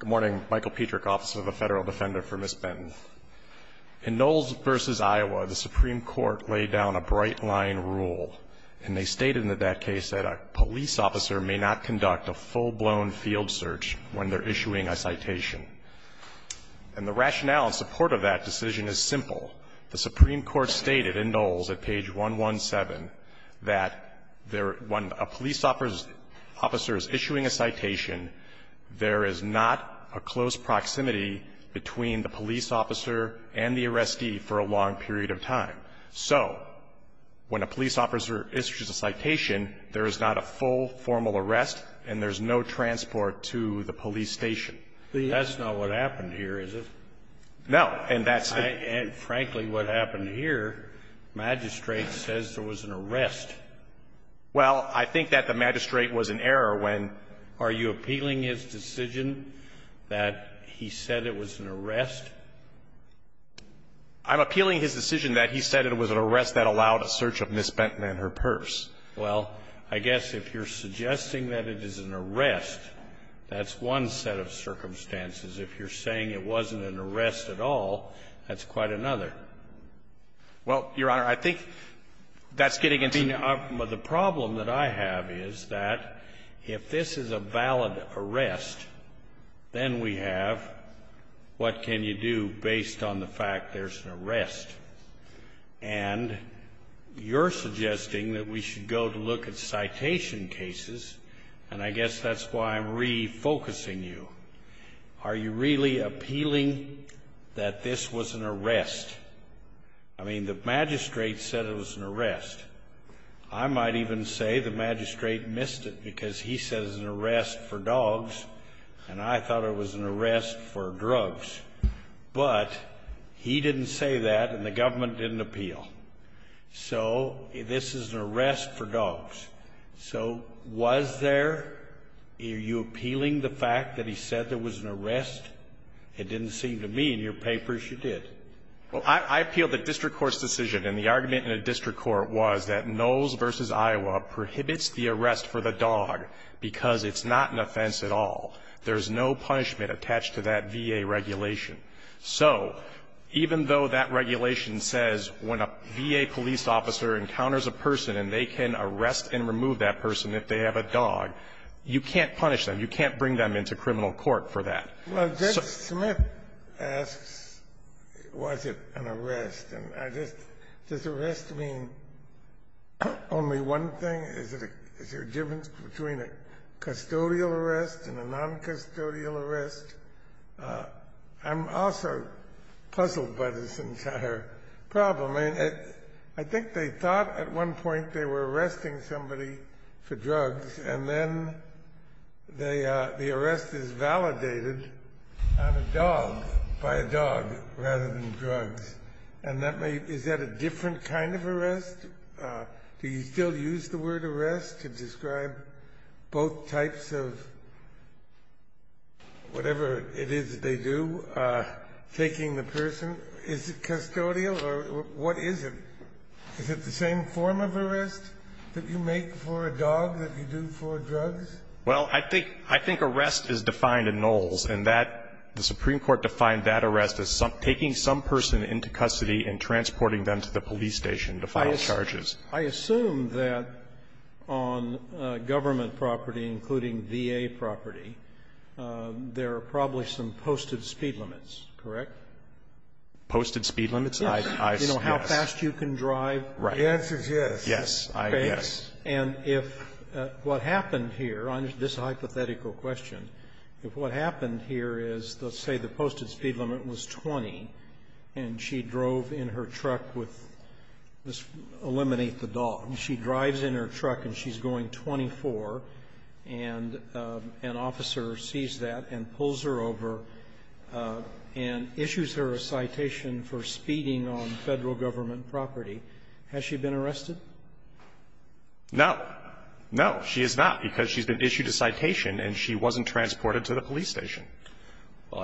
Good morning. Michael Petrick, officer of the Federal Defender for Ms. Benton. In Knowles v. Iowa, the Supreme Court laid down a bright-line rule, and they stated in that case that a police officer may not conduct a full-blown field search when they're issuing a citation. And the rationale in support of that decision is simple. The Supreme Court stated in Knowles at page 117 that when a police officer is issuing a citation, there is not a close proximity between the police officer and the arrestee for a long period of time. So when a police officer issues a citation, there is not a full, formal arrest, and there's no transport to the police station. Scalia. That's not what happened here, is it? No. And that's the ---- And frankly, what happened here, magistrate says there was an arrest. Well, I think that the magistrate was in error when ---- Are you appealing his decision that he said it was an arrest? I'm appealing his decision that he said it was an arrest that allowed a search of Ms. Benton and her purse. Well, I guess if you're suggesting that it is an arrest, that's one set of circumstances. If you're saying it wasn't an arrest at all, that's quite another. Well, Your Honor, I think that's getting into the ---- The problem that I have is that if this is a valid arrest, then we have what can you do based on the fact there's an arrest. And you're suggesting that we should go to look at citation cases, and I guess that's why I'm refocusing you. Are you really appealing that this was an arrest? I mean, the magistrate said it was an arrest. I might even say the magistrate missed it because he said it was an arrest for dogs, and I thought it was an arrest for drugs. But he didn't say that, and the government didn't appeal. So this is an arrest for dogs. So was there? Are you appealing the fact that he said there was an arrest? It didn't seem to me in your papers you did. Well, I appealed the district court's decision, and the argument in the district court was that Knowles v. Iowa prohibits the arrest for the dog because it's not an offense at all. There's no punishment attached to that VA regulation. So even though that regulation says when a VA police officer encounters a person and they can arrest and remove that person if they have a dog, you can't punish them. You can't bring them into criminal court for that. Well, Judge Smith asks, was it an arrest? And I just, does arrest mean only one thing? Is there a difference between a custodial arrest and a noncustodial arrest? I'm also puzzled by this entire problem. I mean, I think they thought at one point they were arresting somebody for drugs, and then the arrest is validated on a dog, by a dog, rather than drugs. And is that a different kind of arrest? Do you still use the word arrest to describe both types of whatever it is that they do, taking the person? Is it custodial or what is it? Is it the same form of arrest that you make for a dog that you do for drugs? Well, I think arrest is defined in Knowles, and the Supreme Court defined that arrest as taking some person into custody and transporting them to the police station to file charges. I assume that on government property, including VA property, there are probably some posted speed limits, correct? Posted speed limits? Yes. Do you know how fast you can drive? The answer is yes. Yes. Okay. And if what happened here, on this hypothetical question, if what happened here is, let's say the posted speed limit was 20, and she drove in her truck with this eliminate the dog. She drives in her truck, and she's going 24, and an officer sees that and pulls her over and issues her a citation for speeding on federal government property. Has she been arrested? No. No, she has not, because she's been issued a citation, and she wasn't transported to the police station.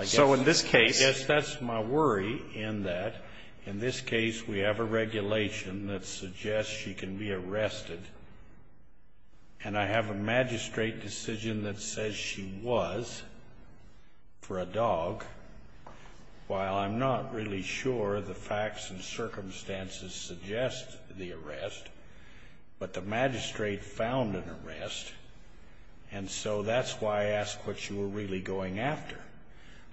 So in this case. I guess that's my worry in that, in this case, we have a regulation that suggests she can be arrested, and I have a magistrate decision that says she was. For a dog. While I'm not really sure the facts and circumstances suggest the arrest. But the magistrate found an arrest, and so that's why I asked what you were really going after.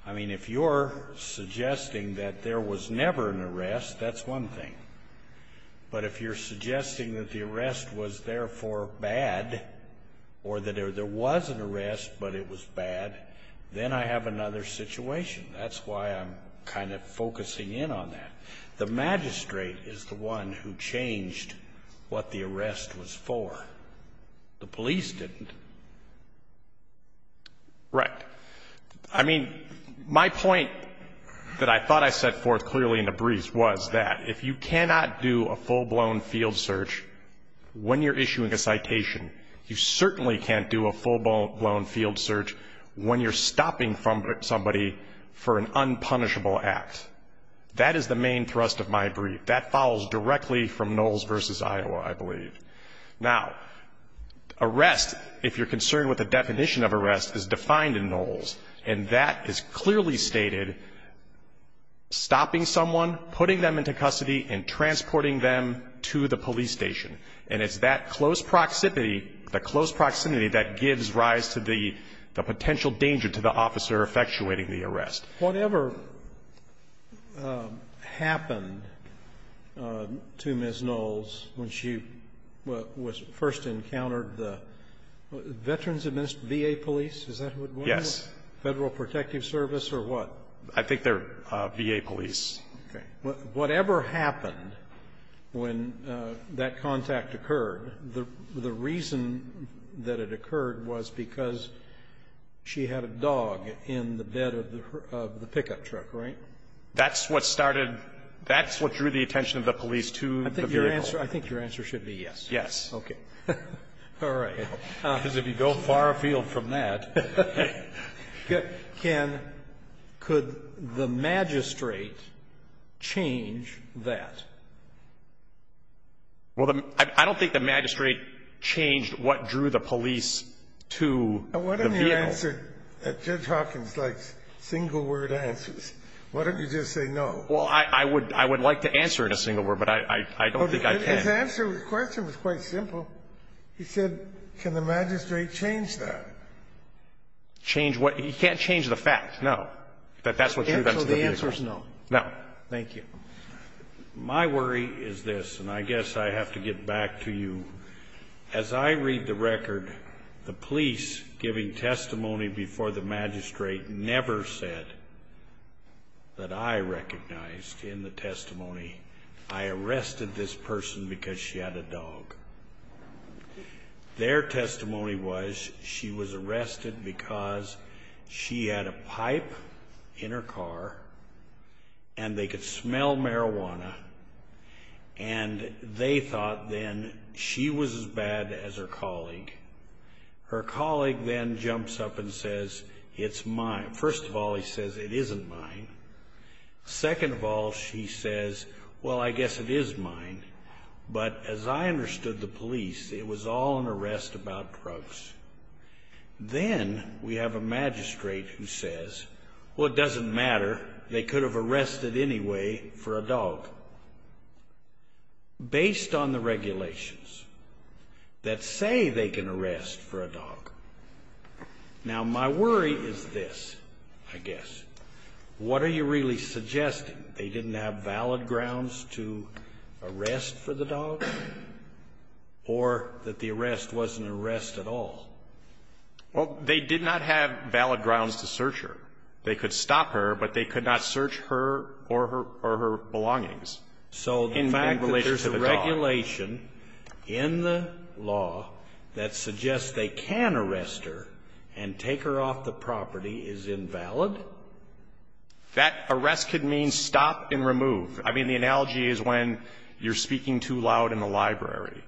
I mean, if you're suggesting that there was never an arrest, that's one thing. But if you're suggesting that the arrest was therefore bad, or that there was an arrest, then I have another situation. That's why I'm kind of focusing in on that. The magistrate is the one who changed what the arrest was for. The police didn't. Right. I mean, my point that I thought I set forth clearly in the briefs was that if you cannot do a full-blown field search when you're issuing a citation, you certainly can't do a full-blown field search when you're stopping somebody for an unpunishable act. That is the main thrust of my brief. That follows directly from Knowles v. Iowa, I believe. Now, arrest, if you're concerned with the definition of arrest, is defined in Knowles, and that is clearly stated, stopping someone, putting them into custody, and transporting them to the police station. And it's that close proximity, the close proximity that gives rise to the potential danger to the officer effectuating the arrest. Whatever happened to Ms. Knowles when she was first encountered the Veterans Administration, VA police, is that what it was? Yes. Federal Protective Service or what? I think they're VA police. Okay. Whatever happened when that contact occurred, the reason that it occurred was because she had a dog in the bed of the pickup truck, right? That's what started, that's what drew the attention of the police to the vehicle. I think your answer should be yes. Yes. Okay. All right. Because if you go far afield from that. Can, could the magistrate change that? Well, I don't think the magistrate changed what drew the police to the vehicle. Why don't you answer, Judge Hawkins likes single word answers. Why don't you just say no? Well, I would like to answer in a single word, but I don't think I can. His answer, his question was quite simple. He said, can the magistrate change that? Change what? You can't change the fact. No. That that's what drew them to the vehicle. So the answer is no. No. Thank you. My worry is this, and I guess I have to get back to you. As I read the record, the police giving testimony before the magistrate never said that I recognized in the testimony, I arrested this person because she had a dog. Their testimony was she was arrested because she had a pipe in her car and they could smell marijuana and they thought then she was as bad as her colleague. Her colleague then jumps up and says, it's mine. First of all, he says, it isn't mine. Second of all, she says, well, I guess it is mine. But as I understood the police, it was all an arrest about drugs. Then we have a magistrate who says, well, it doesn't matter. They could have arrested anyway for a dog. Based on the regulations that say they can arrest for a dog. Now, my worry is this, I guess. What are you really suggesting? They didn't have valid grounds to arrest for the dog? Or that the arrest wasn't an arrest at all? Well, they did not have valid grounds to search her. They could stop her, but they could not search her or her belongings. In fact, there's a regulation in the law that suggests they can arrest her and take her off the property is invalid? That arrest could mean stop and remove. I mean, the analogy is when you're speaking too loud in the library.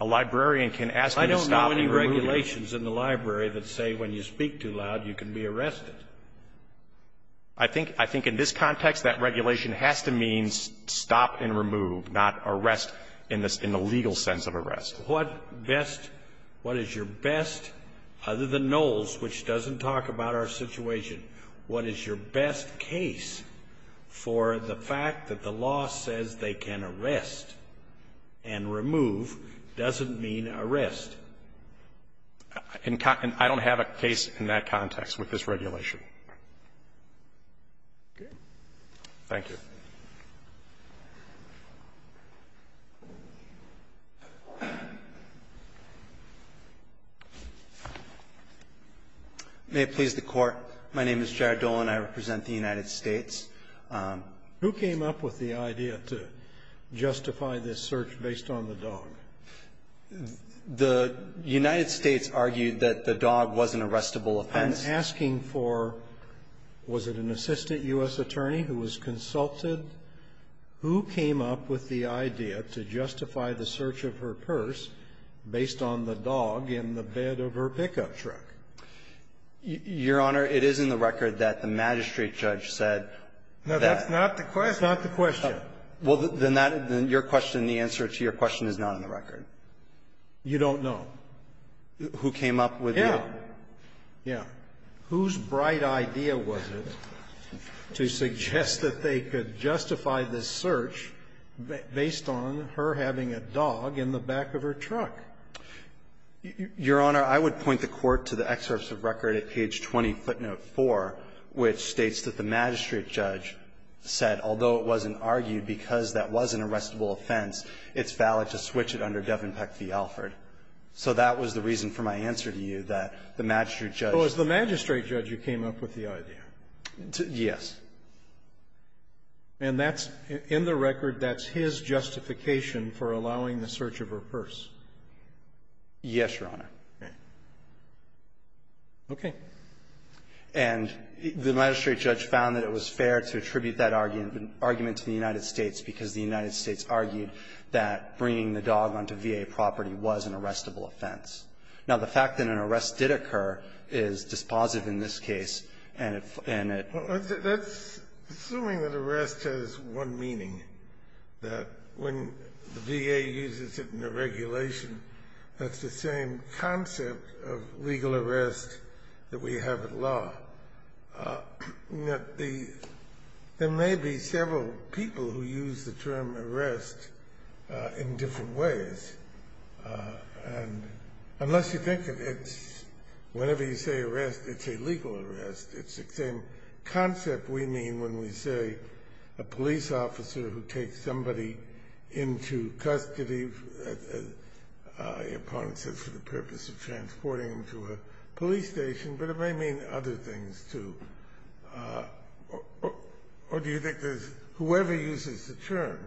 A librarian can ask you to stop and remove. I don't know any regulations in the library that say when you speak too loud, you can be arrested. I think in this context, that regulation has to mean stop and remove, not arrest in the legal sense of arrest. What is your best, other than Knowles, which doesn't talk about our situation, what is your best case for the fact that the law says they can arrest and remove doesn't mean arrest? I don't have a case in that context with this regulation. Thank you. Okay. Thank you. May it please the Court. My name is Jared Dolan. I represent the United States. Who came up with the idea to justify this search based on the dog? The United States argued that the dog was an arrestable offense. I'm asking for, was it an assistant U.S. attorney who was consulted? Who came up with the idea to justify the search of her purse based on the dog in the bed of her pickup truck? Your Honor, it is in the record that the magistrate judge said that. No, that's not the question. That's not the question. Well, then that, then your question, the answer to your question is not in the record. You don't know. Who came up with the idea? Yeah. Whose bright idea was it to suggest that they could justify this search based on her having a dog in the back of her truck? Your Honor, I would point the Court to the excerpts of record at page 20, footnote 4, which states that the magistrate judge said, although it wasn't argued because that was an arrestable offense, it's valid to switch it under Devon Peck v. Alford. So that was the reason for my answer to you, that the magistrate judge was the magistrate judge who came up with the idea. Yes. And that's, in the record, that's his justification for allowing the search of her purse? Yes, Your Honor. Okay. And the magistrate judge found that it was fair to attribute that argument to the United States Department of Justice, that the search of a VA property was an arrestable offense. Now, the fact that an arrest did occur is dispositive in this case, and it That's assuming that arrest has one meaning, that when the VA uses it in a regulation, that's the same concept of legal arrest that we have at law. There may be several people who use the term arrest in different ways, and unless you think of it, whenever you say arrest, it's a legal arrest. It's the same concept we mean when we say a police officer who takes somebody into custody, your partner says, for the purpose of transporting them to a police station, but it may mean other things, too. Or do you think there's whoever uses the term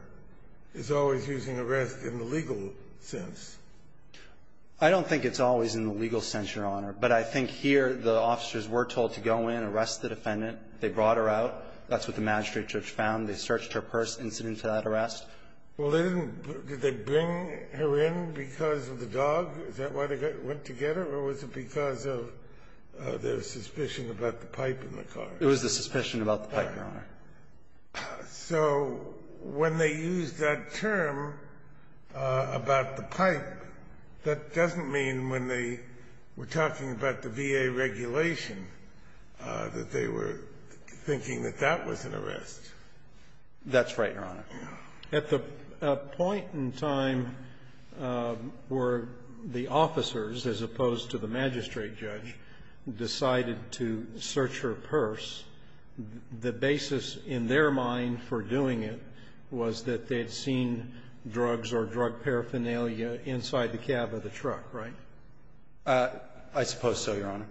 is always using arrest in the legal sense? I don't think it's always in the legal sense, Your Honor. But I think here the officers were told to go in, arrest the defendant. They brought her out. That's what the magistrate judge found. They searched her purse incident to that arrest. Well, they didn't. Did they bring her in because of the dog? Is that why they went to get her, or was it because of their suspicion about the pipe in the car? It was the suspicion about the pipe, Your Honor. So when they used that term about the pipe, that doesn't mean when they were talking about the VA regulation that they were thinking that that was an arrest. That's right, Your Honor. At the point in time where the officers, as opposed to the magistrate judge, decided to search her purse, the basis in their mind for doing it was that they had seen drugs or drug paraphernalia inside the cab of the truck, right? I suppose so, Your Honor.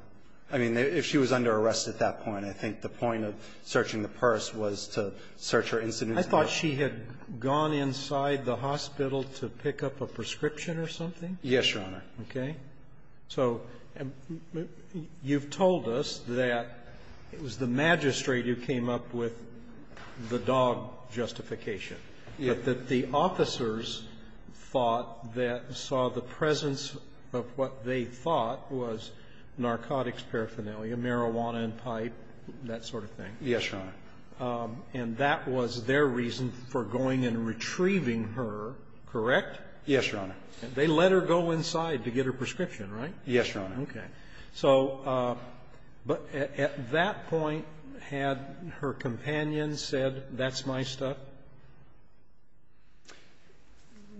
I mean, if she was under arrest at that point, I think the point of searching the purse was to search her incident. I thought she had gone inside the hospital to pick up a prescription or something? Yes, Your Honor. Okay. So you've told us that it was the magistrate who came up with the dog justification, but that the officers thought that saw the presence of what they thought was narcotics paraphernalia, marijuana and pipe, that sort of thing. Yes, Your Honor. And that was their reason for going and retrieving her, correct? Yes, Your Honor. They let her go inside to get her prescription, right? Yes, Your Honor. Okay. So at that point, had her companion said, that's my stuff?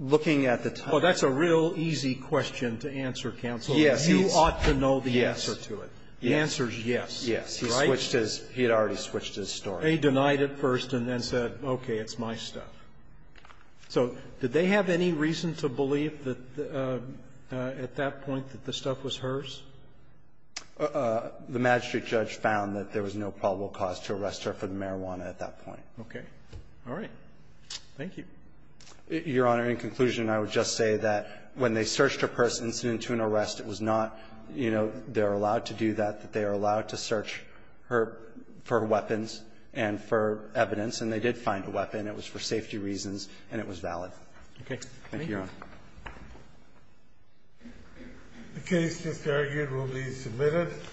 Looking at the time. Well, that's a real easy question to answer, counsel. Yes. You ought to know the answer to it. The answer is yes. He had already switched his story. He denied it first and then said, okay, it's my stuff. So did they have any reason to believe that at that point that the stuff was hers? The magistrate judge found that there was no probable cause to arrest her for the marijuana at that point. Okay. All right. Thank you. Your Honor, in conclusion, I would just say that when they searched her purse incident to an arrest, it was not, you know, they're allowed to do that, that they are allowed to search her for weapons and for evidence. And they did find a weapon. It was for safety reasons, and it was valid. Okay. Thank you, Your Honor. The case, as argued, will be submitted.